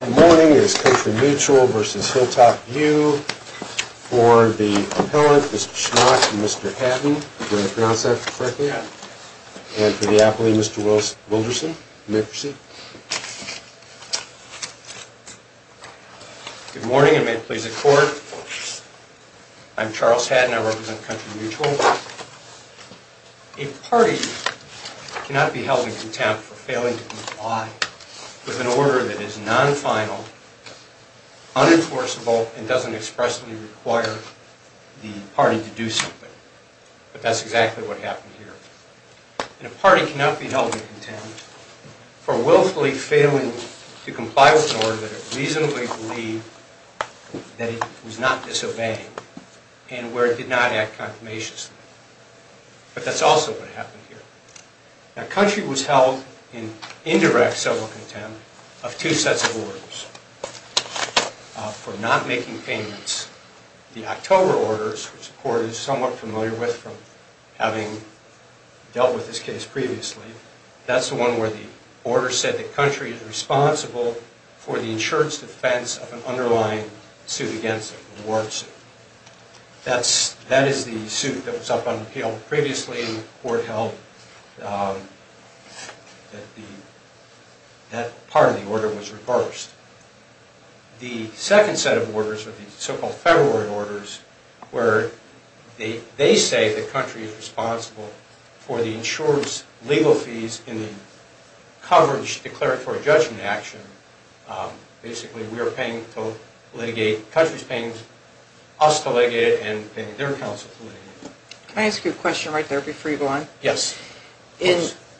Good morning. It's Country Mutual v. Hilltop View. For the appellant, Mr. Schmott and Mr. Hadden. Did I pronounce that correctly? Yeah. And for the appellee, Mr. Wilderson. May I have your seat? Good morning and may it please the Court. I'm Charles Hadden. I represent Country Mutual. A party cannot be held in contempt for failing to comply with an order that is non-final, unenforceable, and doesn't expressly require the party to do something. But that's exactly what happened here. And a party cannot be held in contempt for willfully failing to comply with an order that it reasonably believed that it was not disobeying and where it did not act confirmation. But that's also what happened here. Now, Country was held in indirect civil contempt of two sets of orders. For not making payments. The October orders, which the Court is somewhat familiar with from having dealt with this case previously. That's the one where the order said that Country is responsible for the insurance defense of an underlying suit against it. A war suit. That is the suit that was up on appeal previously. And that's the one where the Court held that part of the order was reversed. The second set of orders are the so-called February orders where they say that Country is responsible for the insurance legal fees in the coverage declaratory judgment action. Basically, we are paying to litigate. Country is paying us to litigate it and paying their counsel to litigate it. Can I ask you a question right there before you go on? Yes.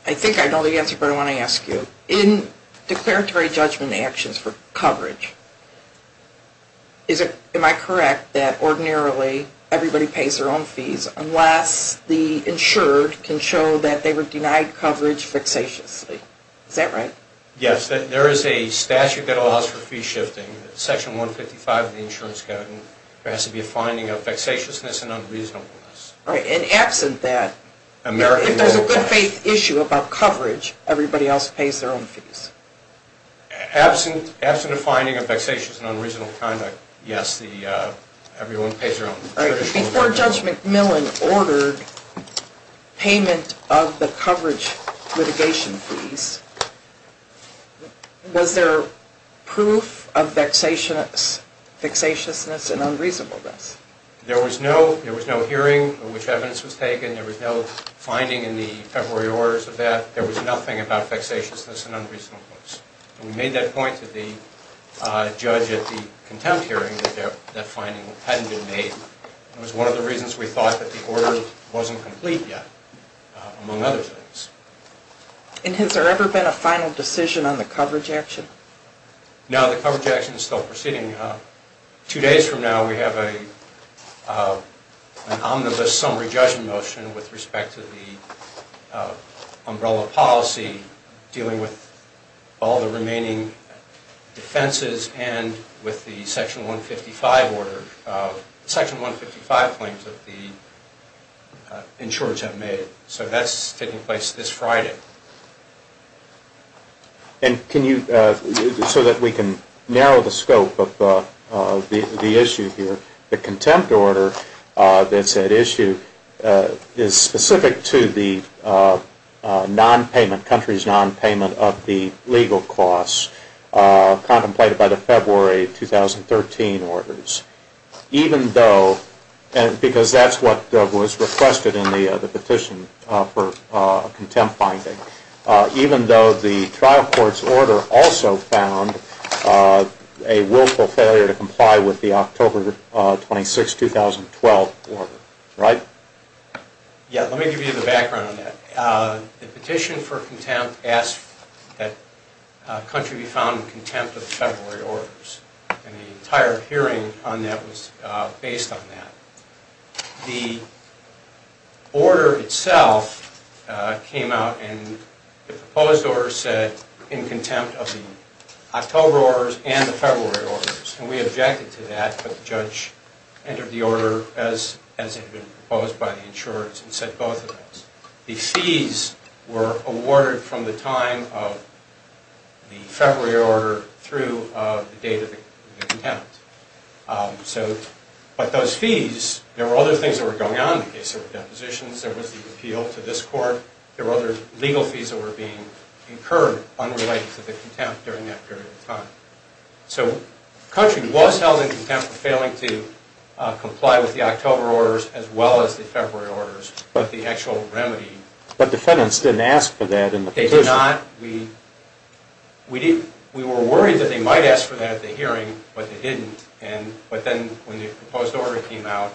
I think I know the answer, but I want to ask you. In declaratory judgment actions for coverage, am I correct that ordinarily everybody pays their own fees unless the insured can show that they were denied coverage vexatiously? Is that right? Yes. There is a statute that allows for fee shifting, Section 155 of the Insurance Code, and there has to be a finding of vexatiousness and unreasonableness. Right. And absent that, if there's a good faith issue about coverage, everybody else pays their own fees? Absent a finding of vexatious and unreasonable conduct, yes, everyone pays their own fees. Before Judge McMillan ordered payment of the coverage litigation fees, was there proof of vexatiousness and unreasonableness? There was no hearing in which evidence was taken. There was no finding in the February orders of that. There was nothing about vexatiousness and unreasonableness. We made that point to the judge at the contempt hearing that that finding hadn't been made. It was one of the reasons we thought that the order wasn't complete yet, among other things. And has there ever been a final decision on the coverage action? No, the coverage action is still proceeding. Two days from now, we have an omnibus summary judgment motion with respect to the umbrella policy, dealing with all the remaining defenses and with the Section 155 claims that the insurers have made. So that's taking place this Friday. And so that we can narrow the scope of the issue here, the contempt order that's at issue is specific to the country's nonpayment of the legal costs contemplated by the February 2013 orders, because that's what was requested in the petition for contempt finding, even though the trial court's order also found a willful failure to comply with the October 26, 2012 order. Right? Yeah, let me give you the background on that. The petition for contempt asked that the country be found in contempt of the February orders. And the entire hearing on that was based on that. The order itself came out, and the proposed order said, in contempt of the October orders and the February orders. And we objected to that, but the judge entered the order as it had been proposed by the insurers and said both of those. The fees were awarded from the time of the February order through the date of the contempt. But those fees, there were other things that were going on in the case of depositions. There was the appeal to this court. There were other legal fees that were being incurred unrelated to the contempt during that period of time. So the country was held in contempt for failing to comply with the October orders as well as the February orders. But the actual remedy... But defendants didn't ask for that in the petition. They did not. We were worried that they might ask for that at the hearing, but they didn't. But then when the proposed order came out,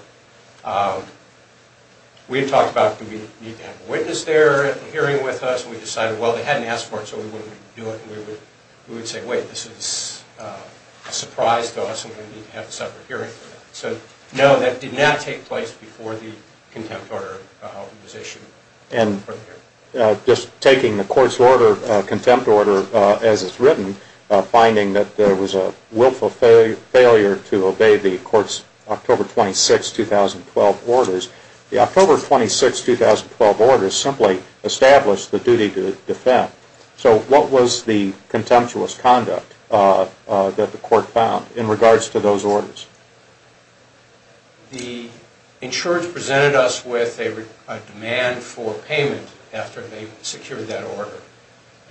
we had talked about, do we need to have a witness there at the hearing with us? And we decided, well, they hadn't asked for it, so we wouldn't do it. And we would say, wait, this is a surprise to us, and we need to have a separate hearing for that. So no, that did not take place before the contempt order was issued. And just taking the court's contempt order as it's written, finding that there was a willful failure to obey the court's October 26, 2012 orders, the October 26, 2012 orders simply established the duty to defend. So what was the contemptuous conduct that the court found in regards to those orders? The insurance presented us with a demand for payment after they secured that order.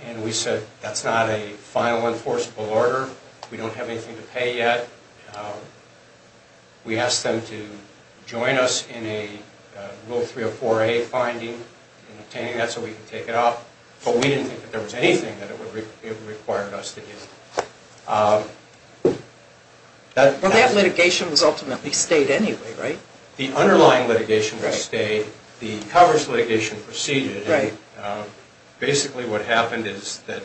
And we said, that's not a final enforceable order. We don't have anything to pay yet. We asked them to join us in a Rule 304A finding, obtaining that so we could take it off. But we didn't think that there was anything that it required us to do. Well, that litigation was ultimately stayed anyway, right? The underlying litigation was stayed. The coverage litigation proceeded. Basically, what happened is that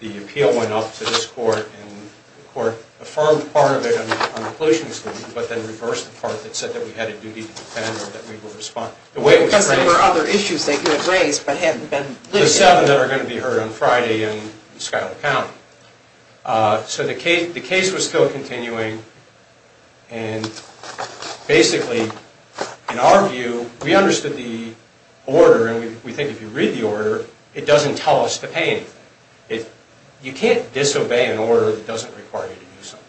the appeal went up to this court, and the court affirmed part of it on the political stand, but then reversed the part that said that we had a duty to defend or that we would respond. Because there were other issues they could have raised but hadn't been listed. The seven that are going to be heard on Friday in Schuyler County. So the case was still continuing, and basically, in our view, we understood the order, and we think if you read the order, it doesn't tell us to pay anything. You can't disobey an order that doesn't require you to do something.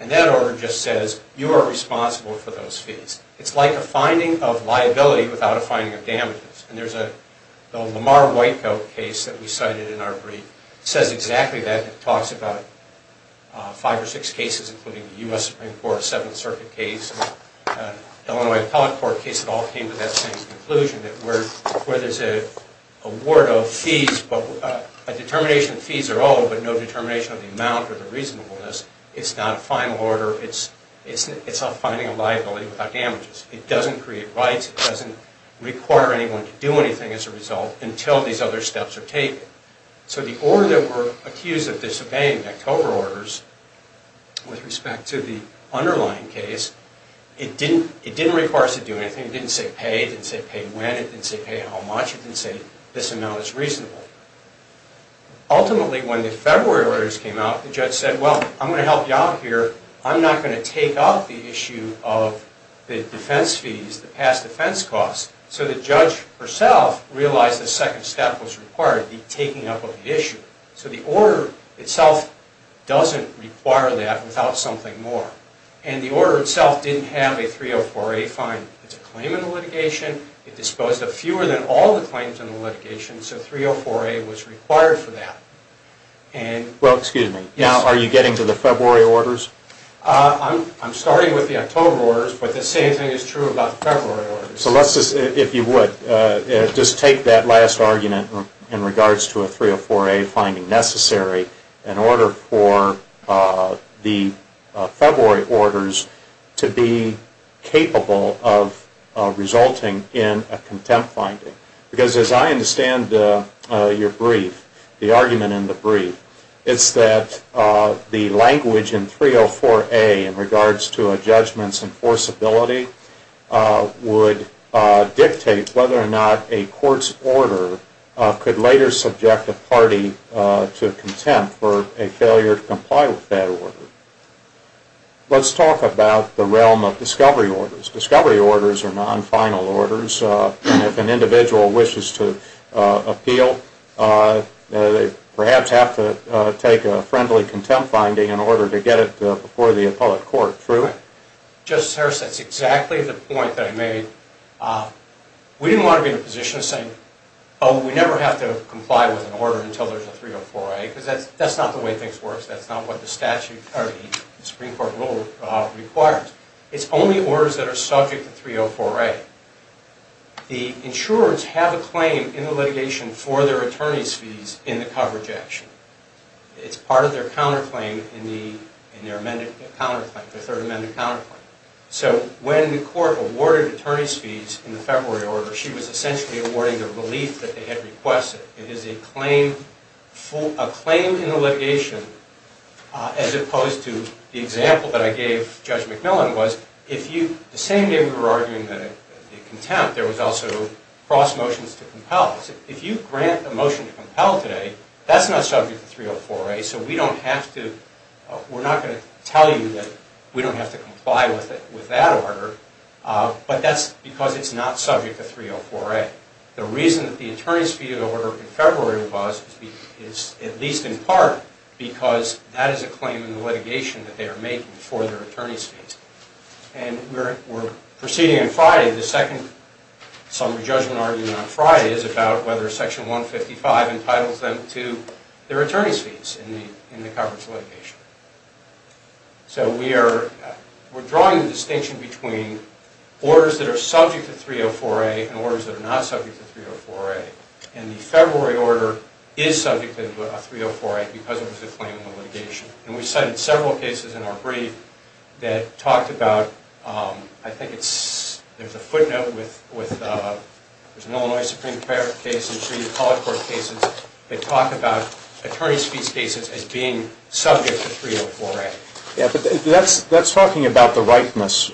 And that order just says, you are responsible for those fees. It's like a finding of liability without a finding of damages. And there's a Lamar Whitecoat case that we cited in our brief. It says exactly that. It talks about five or six cases, including the U.S. Supreme Court, the 7th Circuit case, the Illinois Appellate Court case, it all came to that same conclusion that where there's an award of fees, a determination of fees are owed, but no determination of the amount or the reasonableness. It's not a final order. It's a finding of liability without damages. It doesn't create rights. It doesn't require anyone to do anything as a result until these other steps are taken. So the order that we're accused of disobeying, with respect to the underlying case, it didn't require us to do anything. It didn't say pay. It didn't say pay when. It didn't say pay how much. It didn't say this amount is reasonable. Ultimately, when the February orders came out, the judge said, well, I'm going to help you out here. I'm not going to take up the issue of the defense fees, the past defense costs. So the judge herself realized the second step was required, the taking up of the issue. So the order itself doesn't require that without something more. And the order itself didn't have a 304A finding. It's a claim in the litigation. It disposed of fewer than all the claims in the litigation, so 304A was required for that. Well, excuse me. Now, are you getting to the February orders? I'm starting with the October orders, but the same thing is true about February orders. So let's just, if you would, just take that last argument in regards to a 304A finding necessary in order for the February orders to be capable of resulting in a contempt finding. Because as I understand your brief, the argument in the brief, it's that the language in 304A in regards to a judgment's enforceability would dictate whether or not a court's order could later subject a party to contempt for a failure to comply with that order. Let's talk about the realm of discovery orders. Discovery orders are non-final orders. If an individual wishes to appeal, they perhaps have to take a friendly contempt finding in order to get it before the appellate court, true? Justice Harris, that's exactly the point that I made. We didn't want to be in a position of saying, oh, we never have to comply with an order until there's a 304A, because that's not the way things work. That's not what the statute or the Supreme Court rule requires. It's only orders that are subject to 304A. The insurers have a claim in the litigation for their attorney's fees in the coverage action. It's part of their counterclaim in their third amendment counterclaim. So when the court awarded attorney's fees in the February order, she was essentially awarding the relief that they had requested. It is a claim in the litigation as opposed to the example that I gave Judge McMillan was, the same day we were arguing the contempt, there was also cross motions to compel. If you grant a motion to compel today, that's not subject to 304A, so we're not going to tell you that we don't have to comply with that order, but that's because it's not subject to 304A. The reason that the attorney's fee order in February was is at least in part because that is a claim in the litigation that they are making for their attorney's fees. And we're proceeding on Friday. The second summary judgment argument on Friday is about whether Section 155 entitles them to their attorney's fees in the coverage litigation. So we're drawing the distinction between orders that are subject to 304A and orders that are not subject to 304A. And the February order is subject to 304A because it was a claim in the litigation. And we cited several cases in our brief that talked about, I think it's, there's a footnote with, there's an Illinois Supreme Court case, and three of the college court cases that talk about attorney's fees cases as being subject to 304A. That's talking about the ripeness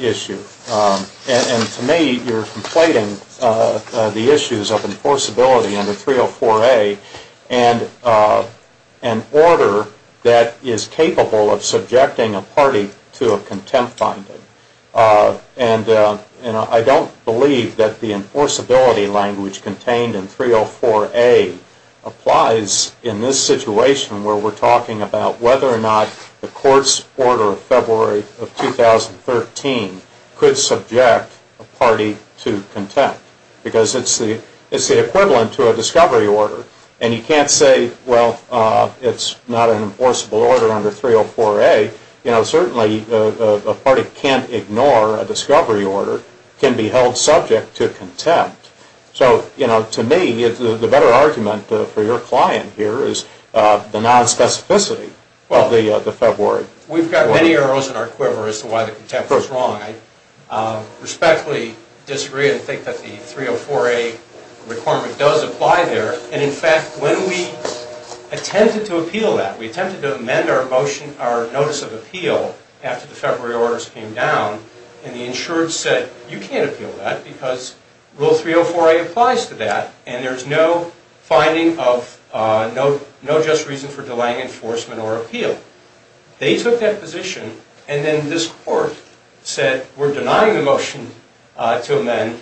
issue. And to me, you're conflating the issues of enforceability under 304A and an order that is capable of subjecting a party to a contempt finding. And I don't believe that the enforceability language contained in 304A applies in this situation where we're talking about whether or not the court's order of February of 2013 could subject a party to contempt. Because it's the equivalent to a discovery order. And you can't say, well, it's not an enforceable order under 304A. You know, certainly a party can't ignore a discovery order, can be held subject to contempt. So, you know, to me, the better argument for your client here is the nonspecificity of the February. We've got many arrows in our quiver as to why the contempt is wrong. I respectfully disagree and think that the 304A requirement does apply there. And in fact, when we attempted to appeal that, we attempted to amend our motion, our notice of appeal after the February orders came down, and the insured said, you can't appeal that because Rule 304A applies to that and there's no finding of no just reason for delaying enforcement or appeal. They took that position and then this court said, we're denying the motion to amend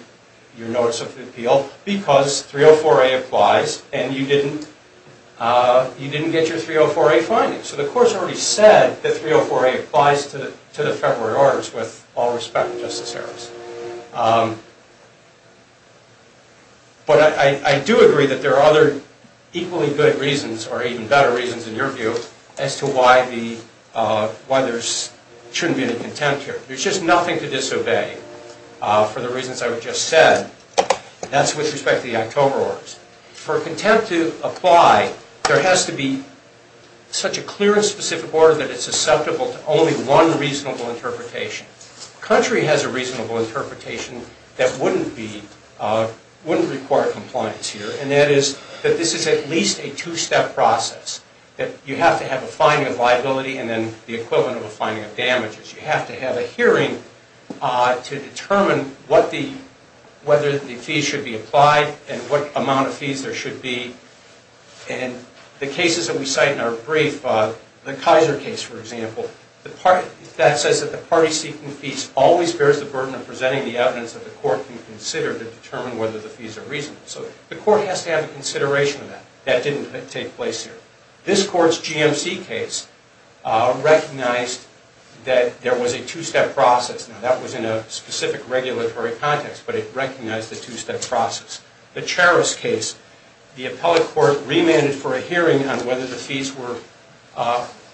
your notice of appeal because 304A applies and you didn't get your 304A findings. So the court's already said that 304A applies to the February orders with all respect, Justice Harris. But I do agree that there are other equally good reasons or even better reasons in your view as to why there shouldn't be any contempt here. There's just nothing to disobey for the reasons I've just said. That's with respect to the October orders. For contempt to apply, there has to be such a clear and specific order that it's susceptible to only one reasonable interpretation. The country has a reasonable interpretation that wouldn't require compliance here, and that is that this is at least a two-step process. You have to have a finding of liability and then the equivalent of a finding of damages. You have to have a hearing to determine whether the fees should be applied and what amount of fees there should be. And the cases that we cite in our brief, the Kaiser case for example, that says that the party seeking fees always bears the burden of presenting the evidence that the court can consider to determine whether the fees are reasonable. So the court has to have a consideration of that. That didn't take place here. This court's GMC case recognized that there was a two-step process. Now that was in a specific regulatory context, but it recognized the two-step process. The Charos case, the appellate court remanded for a hearing on whether the fees were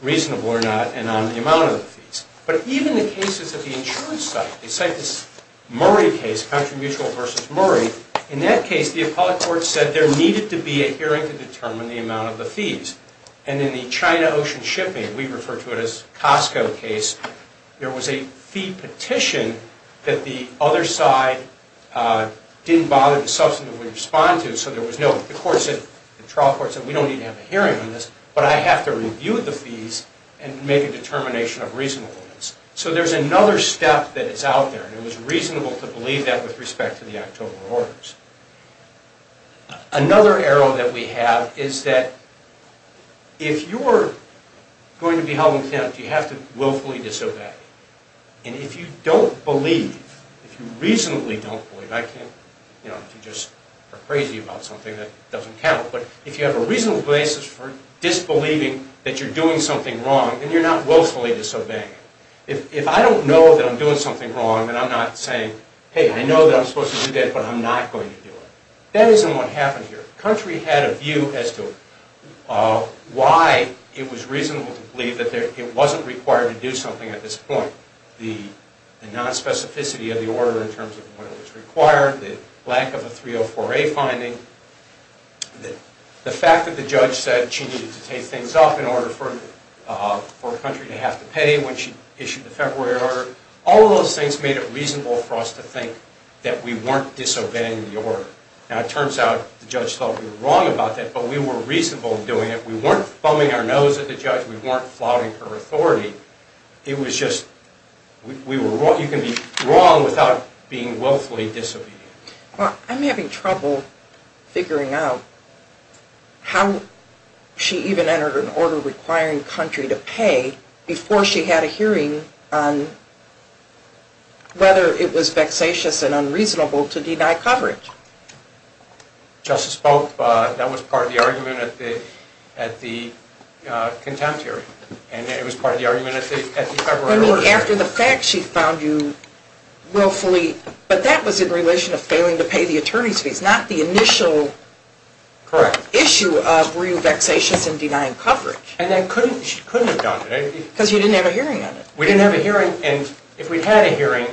reasonable or not and on the amount of the fees. But even the cases of the insurance site, the Murray case, country mutual versus Murray, in that case the appellate court said there needed to be a hearing to determine the amount of the fees. And in the China Ocean Shipping, we refer to it as Costco case, there was a fee petition that the other side didn't bother to substantively respond to. So the trial court said we don't need to have a hearing on this, but I have to review the fees and make a determination of reasonableness. So there's another step that is out there. And it was reasonable to believe that with respect to the October orders. Another arrow that we have is that if you're going to be held in contempt, you have to willfully disobey. And if you don't believe, if you reasonably don't believe, I can't, you know, if you just are crazy about something, that doesn't count. But if you have a reasonable basis for disbelieving that you're doing something wrong, then you're not willfully disobeying. If I don't know that I'm doing something wrong and I'm not saying, hey, I know that I'm supposed to do that, but I'm not going to do it. That isn't what happened here. The country had a view as to why it was reasonable to believe that it wasn't required to do something at this point. The nonspecificity of the order in terms of what was required, the lack of a 304A finding, the fact that the judge said she needed to take things off in order for a country to have to pay when she issued the February order, all of those things made it reasonable for us to think that we weren't disobeying the order. Now it turns out the judge thought we were wrong about that, but we were reasonable in doing it. We weren't foaming our nose at the judge. We weren't flouting her authority. It was just, you can be wrong without being willfully disobedient. Well, I'm having trouble figuring out how she even entered an order requiring a country to pay before she had a hearing on whether it was vexatious and unreasonable to deny coverage. Justice Pope, that was part of the argument at the contempt hearing, and it was part of the argument at the February order hearing. I mean, after the fact she found you willfully, but that was in relation to failing to pay the attorney's fees, not the initial issue of were you vexatious in denying coverage. And she couldn't have done it. Because you didn't have a hearing on it. We didn't have a hearing, and if we had a hearing,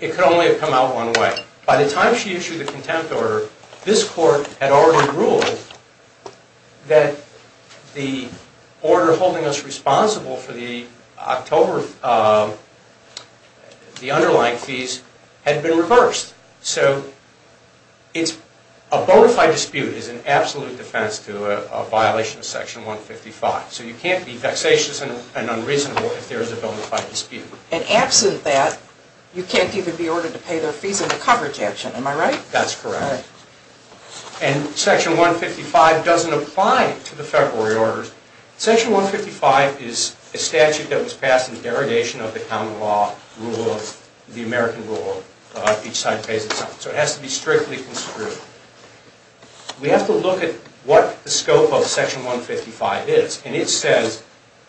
it could only have come out one way. By the time she issued the contempt order, this court had already ruled that the order holding us responsible for the October, the underlying fees, had been reversed. So a bona fide dispute is an absolute defense to a violation of Section 155. So you can't be vexatious and unreasonable if there is a bona fide dispute. And absent that, you can't even be ordered to pay their fees in the coverage action. Am I right? That's correct. And Section 155 doesn't apply to the February orders. Section 155 is a statute that was passed in derogation of the common law rule, the American rule, that each side pays its own. So it has to be strictly construed. We have to look at what the scope of Section 155 is. And it says,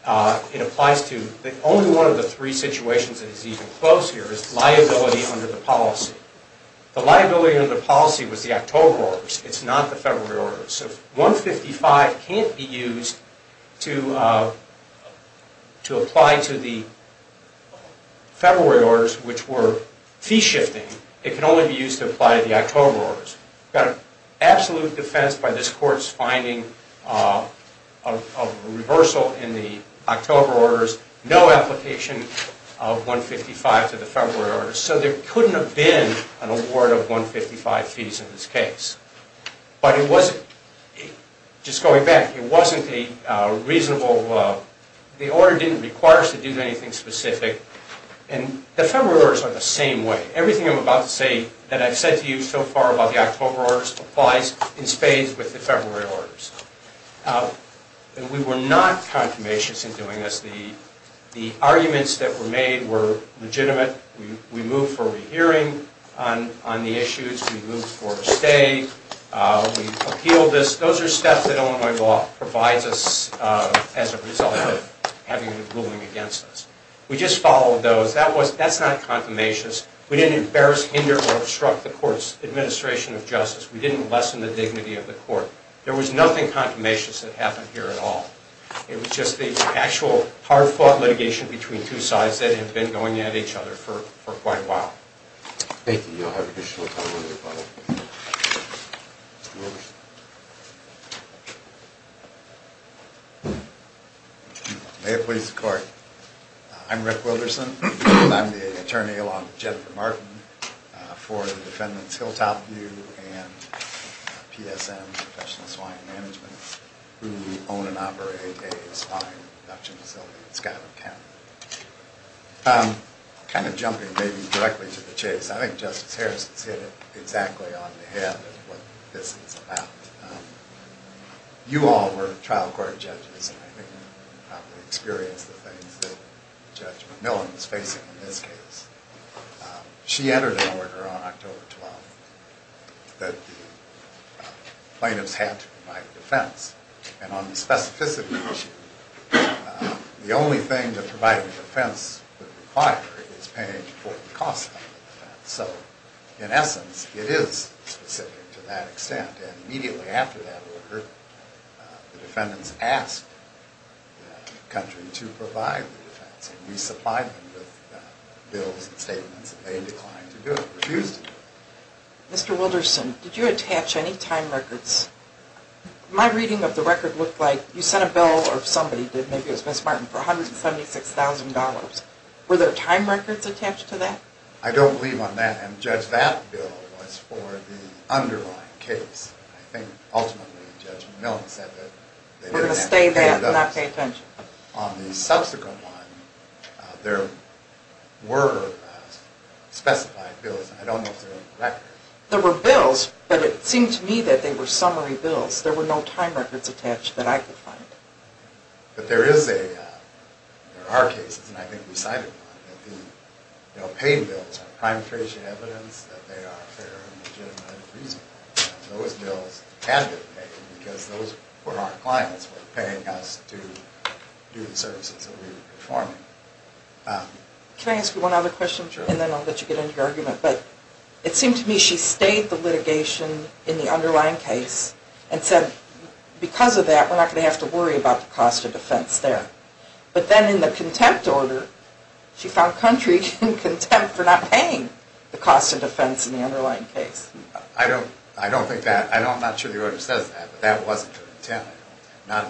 it applies to, only one of the three situations that is even close here is liability under the policy. The liability under the policy was the October orders. It's not the February orders. So if 155 can't be used to apply to the February orders, which were fee shifting, it can only be used to apply to the October orders. We've got an absolute defense by this Court's finding of a reversal in the October orders, no application of 155 to the February orders. So there couldn't have been an award of 155 fees in this case. But it wasn't, just going back, it wasn't a reasonable, the order didn't require us to do anything specific. And the February orders are the same way. Everything I'm about to say that I've said to you so far about the October orders applies in spades with the February orders. We were not consummations in doing this. The arguments that were made were legitimate. We moved for rehearing on the issues. We moved for a stay. We appealed this. Those are steps that Illinois law provides us as a result of having a ruling against us. We just followed those. That's not consummations. We didn't embarrass, hinder, or obstruct the Court's administration of justice. We didn't lessen the dignity of the Court. There was nothing consummations that happened here at all. It was just the actual hard-fought litigation between two sides that had been going at each other for quite a while. Thank you. You'll have additional time later, probably. May it please the Court. I'm Rick Wilderson. I'm the attorney-in-law of Jennifer Martin for the defendants Hilltop View and PSM, Professional Swine Management, who own and operate a swine production facility in Scottsdale County. I'm kind of jumping maybe directly to the case. I think Justice Harrison's hit it exactly on the head of what this is about. You all were trial court judges, and I think you probably experienced the things that Judge McMillan is facing in this case. She entered an order on October 12th that the plaintiffs had to provide a defense. And on the specificity issue, the only thing that providing a defense would require is paying for the cost of the defense. So in essence, it is specific to that extent. And immediately after that order, the defendants asked the country to provide the defense and resupplied them with bills and statements that they declined to do. It refused to do it. Mr. Wilderson, did you attach any time records? My reading of the record looked like you sent a bill or somebody did, maybe it was Ms. Martin, for $176,000. Were there time records attached to that? I don't believe on that, and Judge, that bill was for the underlying case. I think ultimately Judge McMillan said that they didn't have to pay it up. We're going to stay that and not pay attention. On the subsequent one, there were specified bills. I don't know if they're in the record. There were bills, but it seemed to me that they were summary bills. There were no time records attached that I could find. But there is a, there are cases, and I think we cited one, that the paying bills are prime trace evidence that they are fair and legitimate and reasonable. Those bills had to be paid because those were our clients who were paying us to do the services that we were performing. Can I ask you one other question, and then I'll let you get into your argument? It seemed to me she stayed the litigation in the underlying case and said because of that we're not going to have to worry about the cost of defense there. But then in the contempt order, she found country in contempt for not paying the cost of defense in the underlying case. I don't think that, I'm not sure the order says that, but that wasn't her intent.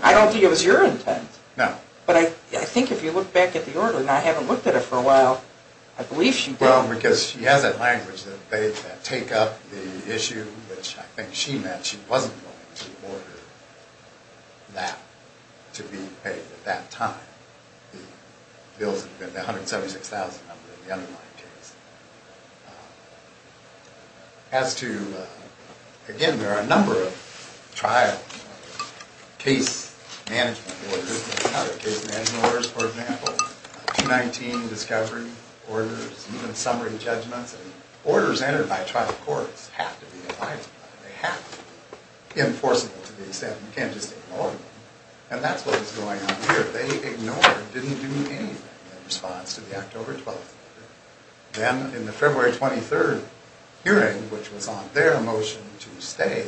I don't think it was your intent. No. But I think if you look back at the order, and I haven't looked at it for a while, I believe she did. Well, because she has that language that they take up the issue, which I think she meant she wasn't going to order that to be paid at that time. The bills had been $176,000 in the underlying case. As to, again, there are a number of trial case management orders, for example, 219 discovery orders, even summary judgments. Orders entered by trial courts have to be in writing. They have to be enforceable to the extent you can't just ignore them. And that's what was going on here. They ignored, didn't do anything in response to the October 12th hearing. Then in the February 23rd hearing, which was on their motion to stay,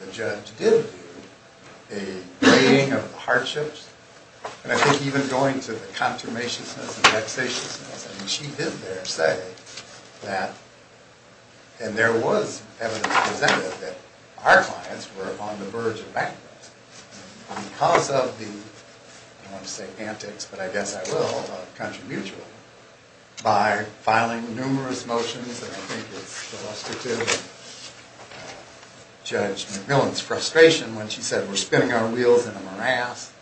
the judge did do a weighing of the hardships. And I think even going to the consummatiousness and vexatiousness, she did there say that, and there was evidence presented, that our clients were on the verge of bankruptcy. Because of the, I don't want to say antics, but I guess I will, of country mutual, by filing numerous motions, and I think it's illustrative of Judge McMillan's frustration when she said, we're spinning our wheels in a morass.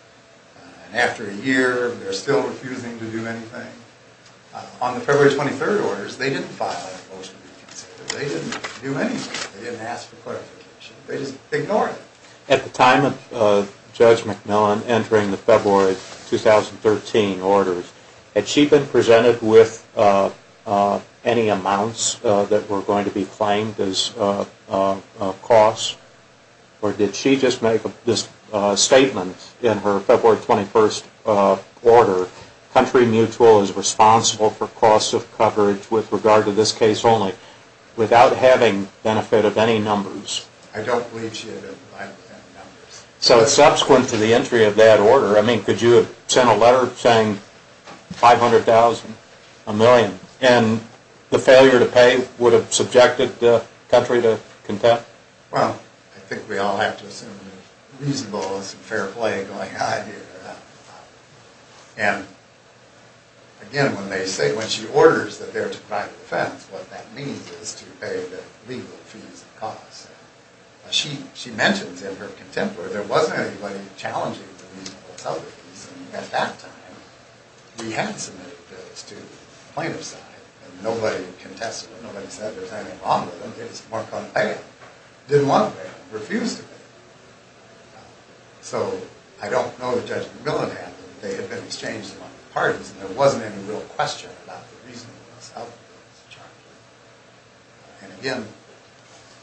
And after a year, they're still refusing to do anything. On the February 23rd orders, they didn't file those motions. They didn't do anything. They didn't ask for clarification. They just ignored it. At the time of Judge McMillan entering the February 2013 orders, had she been presented with any amounts that were going to be claimed as costs? Or did she just make this statement in her February 21st order, country mutual is responsible for costs of coverage with regard to this case only, without having benefit of any numbers? I don't believe she had any benefit of any numbers. So subsequent to the entry of that order, I mean, could you have sent a letter saying $500,000, a million, and the failure to pay would have subjected the country to contempt? Well, I think we all have to assume reasonable and fair play going on here. And again, when they say, when she orders that they're to provide defense, what that means is to pay the legal fees and costs. She mentions in her contemporary there wasn't anybody challenging the reasonable and self-reliance. At that time, we had submitted bills to the plaintiff's side, and nobody contested them. Nobody said there was anything wrong with them. They just weren't going to pay them. Didn't want to pay them. Refused to pay them. So I don't know if Judge McMillan had them. They had been exchanged among the parties, and there wasn't any real question about the reasonable and self-reliance charge. And again,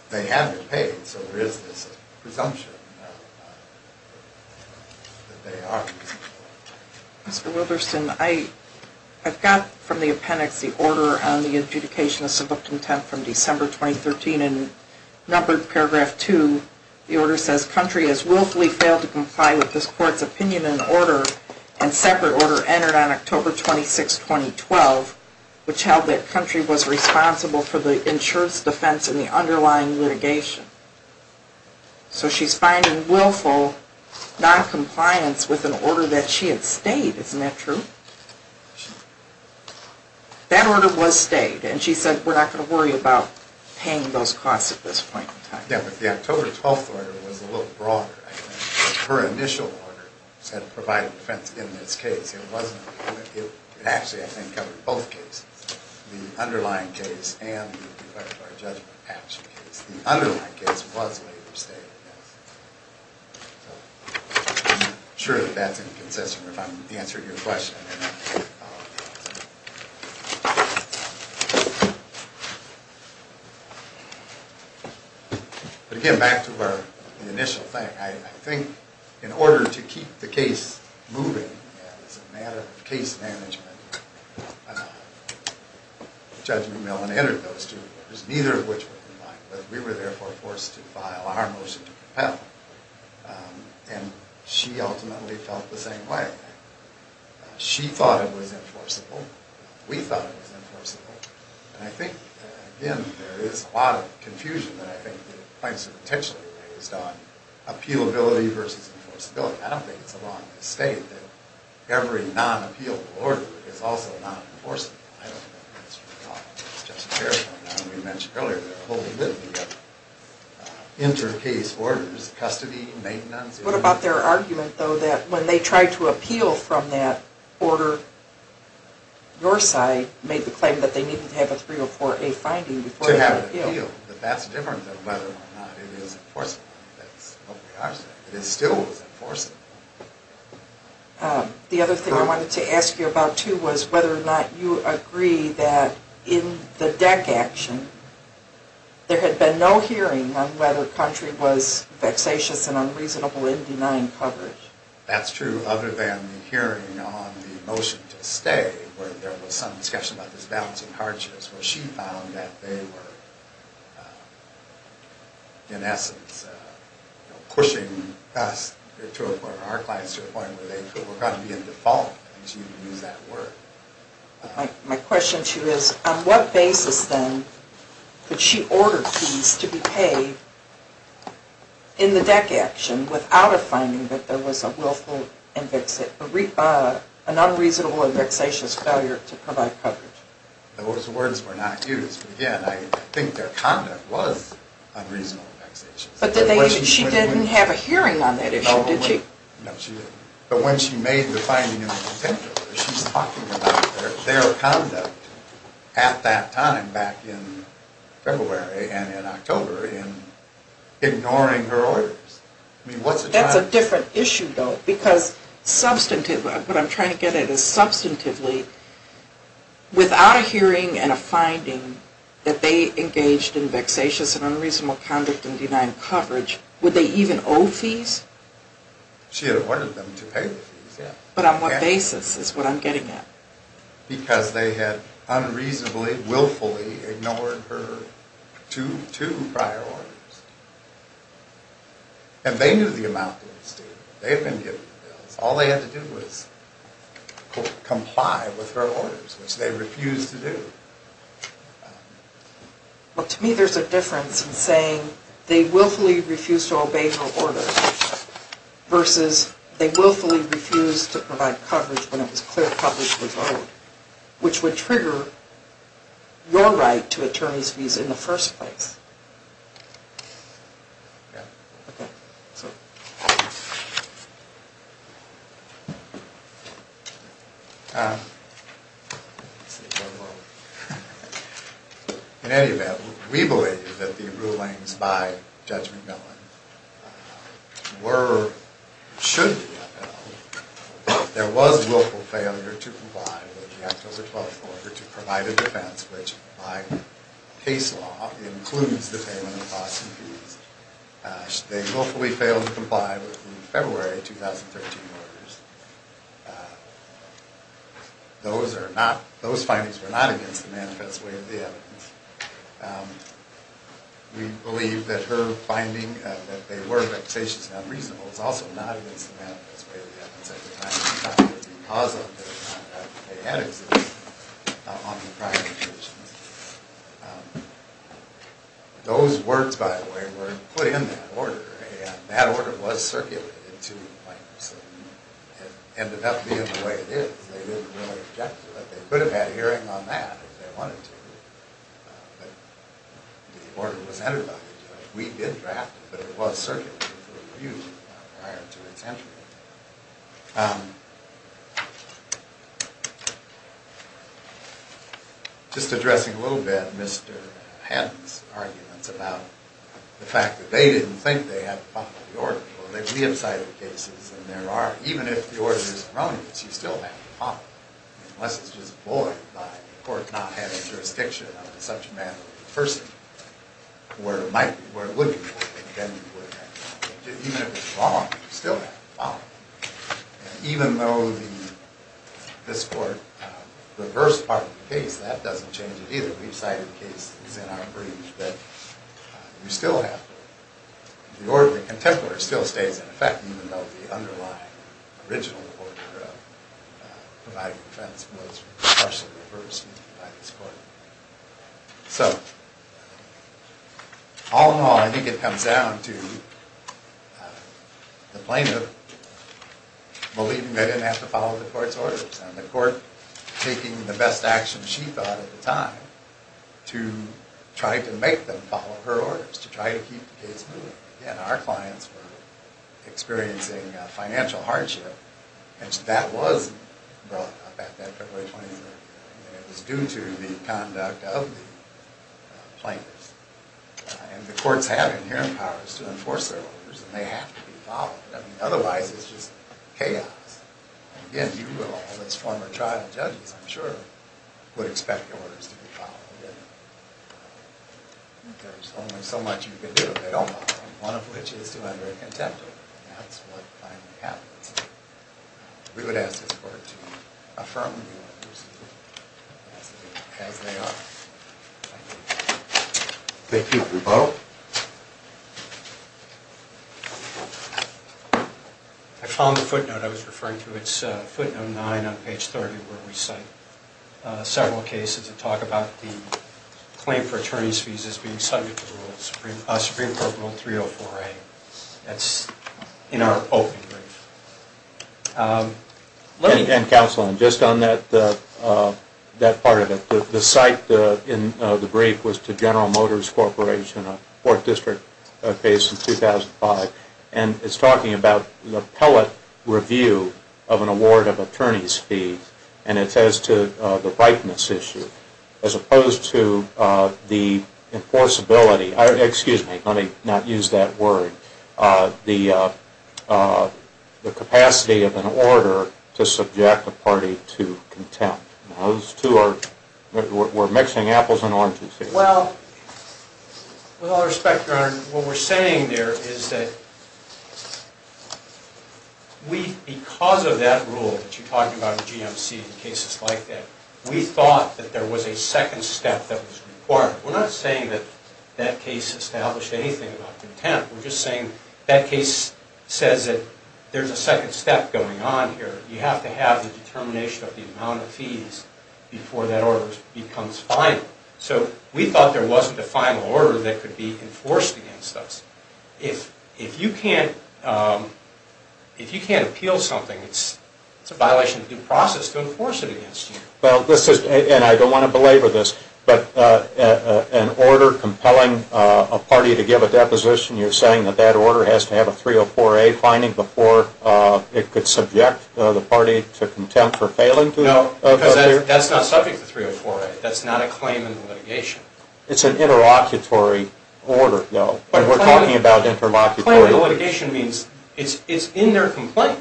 they haven't paid, so there is this presumption that they are reasonable. Mr. Wilberson, I've got from the appendix the order on the adjudication of civil contempt from December 2013, and numbered paragraph 2, the order says, country has willfully failed to comply with this court's opinion and order, and separate order entered on October 26, 2012, which held that country was responsible for the insurance defense and the underlying litigation. So she's finding willful noncompliance with an order that she had stayed. Isn't that true? That order was stayed, and she said, we're not going to worry about paying those costs at this point in time. Yeah, but the October 12 order was a little broader. Her initial order said provide defense in this case. It actually, I think, covered both cases, the underlying case and the effect of our judgment action case. The underlying case was later stayed, yes. So I'm sure that that's inconsistent if I'm answering your question. But again, back to our initial thing, I think in order to keep the case moving as a matter of case management, Judge McMillan entered those two orders, neither of which were in line, but we were therefore forced to file our motion to compel. And she ultimately felt the same way. She thought it was enforceable. We thought it was enforceable. And I think, again, there is a lot of confusion that I think the points are potentially based on appealability versus enforceability. I don't think it's a wrong to state that every non-appealable order is also non-enforceable. I don't know if that's what you're talking about. That's just a paraphrase of what we mentioned earlier. There are a whole myriad of inter-case orders, custody, maintenance. What about their argument, though, that when they tried to appeal from that order, your side made the claim that they needed to have a 304A finding before they could appeal? But that's different than whether or not it is enforceable. That's what we are saying. It still is enforceable. The other thing I wanted to ask you about, too, was whether or not you agree that in the DEC action, there had been no hearing on whether Country was vexatious and unreasonable in denying coverage. That's true, other than the hearing on the motion to stay, where there was some discussion about this balancing hardships, where she found that they were, in essence, pushing us to a point, or our clients to a point where they were going to be in default, if you can use that word. My question to you is, on what basis, then, could she order keys to be paid in the DEC action without a finding that there was an unreasonable and vexatious failure to provide coverage? Those words were not used. Again, I think their conduct was unreasonable and vexatious. But she didn't have a hearing on that issue, did she? No, she didn't. But when she made the finding in contempt of it, she's talking about their conduct at that time, back in February and in October, in ignoring her orders. That's a different issue, though. What I'm trying to get at is, substantively, without a hearing and a finding that they engaged in vexatious and unreasonable conduct and denied coverage, would they even owe fees? She had ordered them to pay the fees. But on what basis is what I'm getting at? Because they had unreasonably, willfully ignored her two prior orders. And they knew the amount that was due. They had been given the bills. All they had to do was comply with her orders, which they refused to do. Well, to me, there's a difference in saying they willfully refused to obey her orders versus they willfully refused to provide coverage when it was clear coverage was owed, which would trigger your right to an attorney's visa in the first place. Yeah. In any event, we believe that the rulings by Judge McMillan were, should be, there was willful failure to comply with the Act of the Twelfth Order to provide a defense which, by case law, includes the payment of costs and fees. They willfully failed to comply with the February 2013 orders. Those findings were not against the manifest way of the evidence. We believe that her finding that they were vexatious and unreasonable was also not against the manifest way of the evidence at the time. Because of the fact that they had existed on the prior occasions. Those words, by the way, were put in that order. And that order was circulated to the plaintiffs. It ended up being the way it is. They didn't really object to it. They could have had a hearing on that if they wanted to. But the order was entered by the judge. We did draft it, but it was circulated for review prior to its entry. Just addressing a little bit Mr. Hannon's arguments about the fact that they didn't think they had to follow the order. Well, they've re-excited cases and there are, even if the order is erroneous, you still have to follow it. Unless it's just bullied by the court not having jurisdiction on such a matter. First, where it might, where it would be, then you would have to follow it. Even if it's wrong, you still have to follow it. Even though this court reversed part of the case, that doesn't change it either. We've cited cases in our briefs that you still have to. The order of the contemporary still stays in effect even though the underlying original order of providing defense was partially reversed by this court. So, all in all, I think it comes down to the plaintiff believing they didn't have to follow the court's orders. And the court taking the best action she thought at the time to try to make them follow her orders, to try to keep the case moving. Again, our clients were experiencing financial hardship. That was brought up at that February 23rd. It was due to the conduct of the plaintiffs. And the courts have inherent powers to enforce their orders and they have to be followed. I mean, otherwise it's just chaos. Again, you and all those former trial judges, I'm sure, would expect your orders to be followed. There's only so much you can do if they don't follow, one of which is to That's what finally happened. We would ask this court to affirm the orders as they are. Thank you. Thank you. We vote. I found the footnote I was referring to. It's footnote 9 on page 30 where we cite several cases that talk about the claim for attorney's fees as being subject to the rules. Supreme Court Rule 304A. That's in our open brief. And counsel, just on that part of it. The cite in the brief was to General Motors Corporation, a fourth district case in 2005. And it's talking about the pellet review of an award of attorney's fees. And it says to the ripeness issue as opposed to the enforceability. Excuse me. Let me not use that word. The capacity of an order to subject a party to contempt. Those two are, we're mixing apples and oranges here. Well, with all respect, Your Honor, what we're saying there is that we, because of that rule that you talked about with GMC and cases like that, we thought that there was a second step that was required. We're not saying that that case established anything about contempt. We're just saying that case says that there's a second step going on here. You have to have the determination of the amount of fees before that order becomes final. So we thought there wasn't a final order that could be enforced against us. If you can't appeal something, it's a violation of due process to enforce it against you. Well, this is, and I don't want to belabor this, but an order compelling a party to give a deposition, you're saying that that order has to have a 304A finding before it could subject the party to contempt for failing to do that? No, because that's not subject to 304A. That's not a claim in the litigation. It's an interlocutory order, though. But we're talking about interlocutory. A claim in the litigation means it's in their complaint,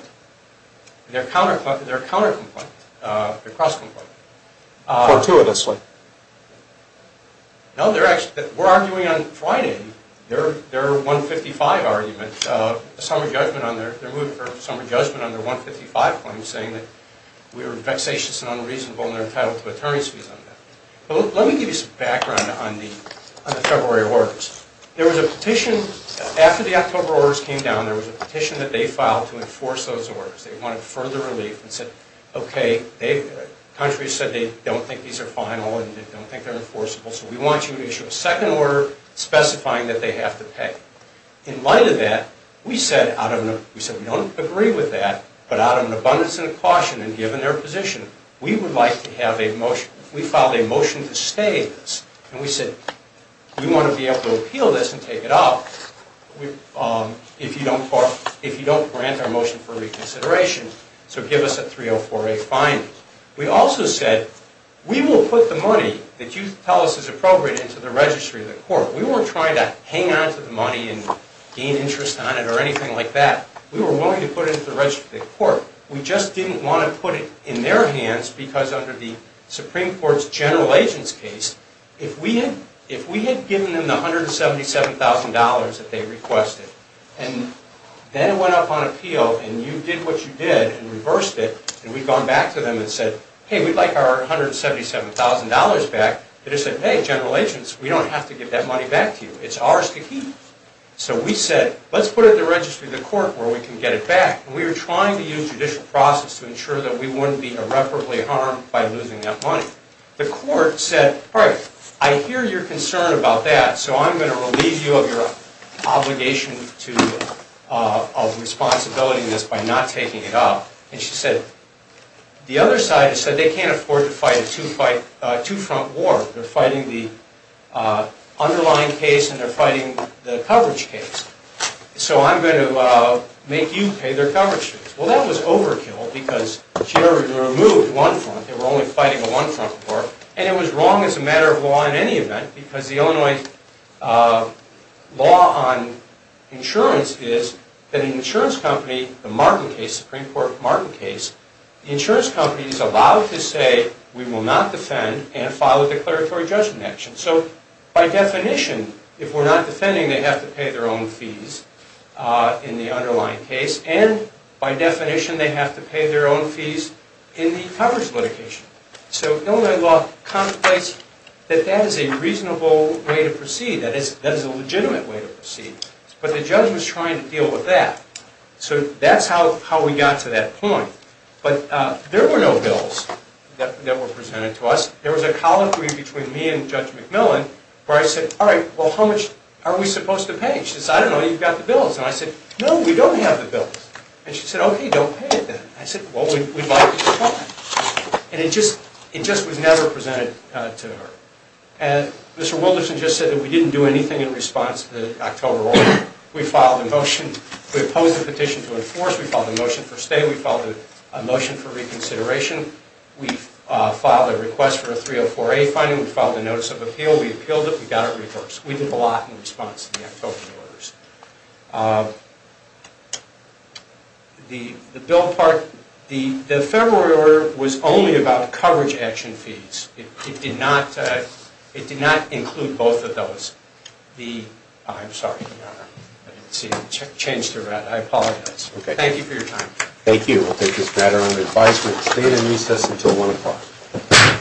their counter-complaint, their cross-complaint. For two of us, right? No, we're arguing on Friday their 155 argument, their summer judgment on their 155 claim, saying that we were vexatious and unreasonable, and they're entitled to attorney's fees on that. Let me give you some background on the February orders. After the October orders came down, there was a petition that they filed to enforce those orders. They wanted further relief and said, okay, the country said they don't think these are final and they don't think they're enforceable, so we want you to issue a second order specifying that they have to pay. In light of that, we said, we don't agree with that, but out of an abundance of caution and given their position, we would like to have a motion. We filed a motion to stay in this, and we said we want to be able to appeal this and take it out if you don't grant our motion for reconsideration, so give us a 304A fine. We also said, we will put the money that you tell us is appropriate into the registry of the court. We weren't trying to hang onto the money and gain interest on it or anything like that. We were willing to put it into the registry of the court. We just didn't want to put it in their hands because under the Supreme Court's general agents case, if we had given them the $177,000 that they requested and then went up on appeal and you did what you did and reversed it and we'd gone back to them and said, hey, we'd like our $177,000 back, they'd have said, hey, general agents, we don't have to give that money back to you. It's ours to keep. So we said, let's put it in the registry of the court where we can get it back, and we were trying to use judicial process to ensure that we wouldn't be irreparably harmed by losing that money. The court said, all right, I hear your concern about that, so I'm going to relieve you of your obligation of responsibility in this by not taking it up. And she said, the other side said they can't afford to fight a two-front war. They're fighting the underlying case and they're fighting the coverage case. So I'm going to make you pay their coverage fees. Well, that was overkill because she only removed one front. They were only fighting a one-front war, and it was wrong as a matter of law in any event because the Illinois law on insurance is that an insurance company, the Martin case, Supreme Court Martin case, the insurance company is allowed to say we will not defend and follow declaratory judgment action. So by definition, if we're not defending, they have to pay their own fees in the underlying case, and by definition, they have to pay their own fees in the coverage litigation. So Illinois law contemplates that that is a reasonable way to proceed, that is a legitimate way to proceed. But the judge was trying to deal with that. So that's how we got to that point. But there were no bills that were presented to us. There was a colloquy between me and Judge McMillan where I said, all right, well, how much are we supposed to pay? She said, I don't know, you've got the bills. And I said, no, we don't have the bills. And she said, okay, don't pay it then. I said, well, we'd like to try. And it just was never presented to her. And Mr. Wilderson just said that we didn't do anything in response to the October order. We filed a motion. We opposed the petition to enforce. We filed a motion for stay. We filed a motion for reconsideration. We filed a request for a 304A finding. We filed a notice of appeal. We appealed it. We got it reversed. We did a lot in response to the October orders. The bill part, the February order was only about coverage action fees. It did not include both of those. I'm sorry, Your Honor. I didn't see you. Changed your mind. I apologize. Thank you for your time. Thank you. We'll take this matter under advisement. Stay in recess until 1 o'clock.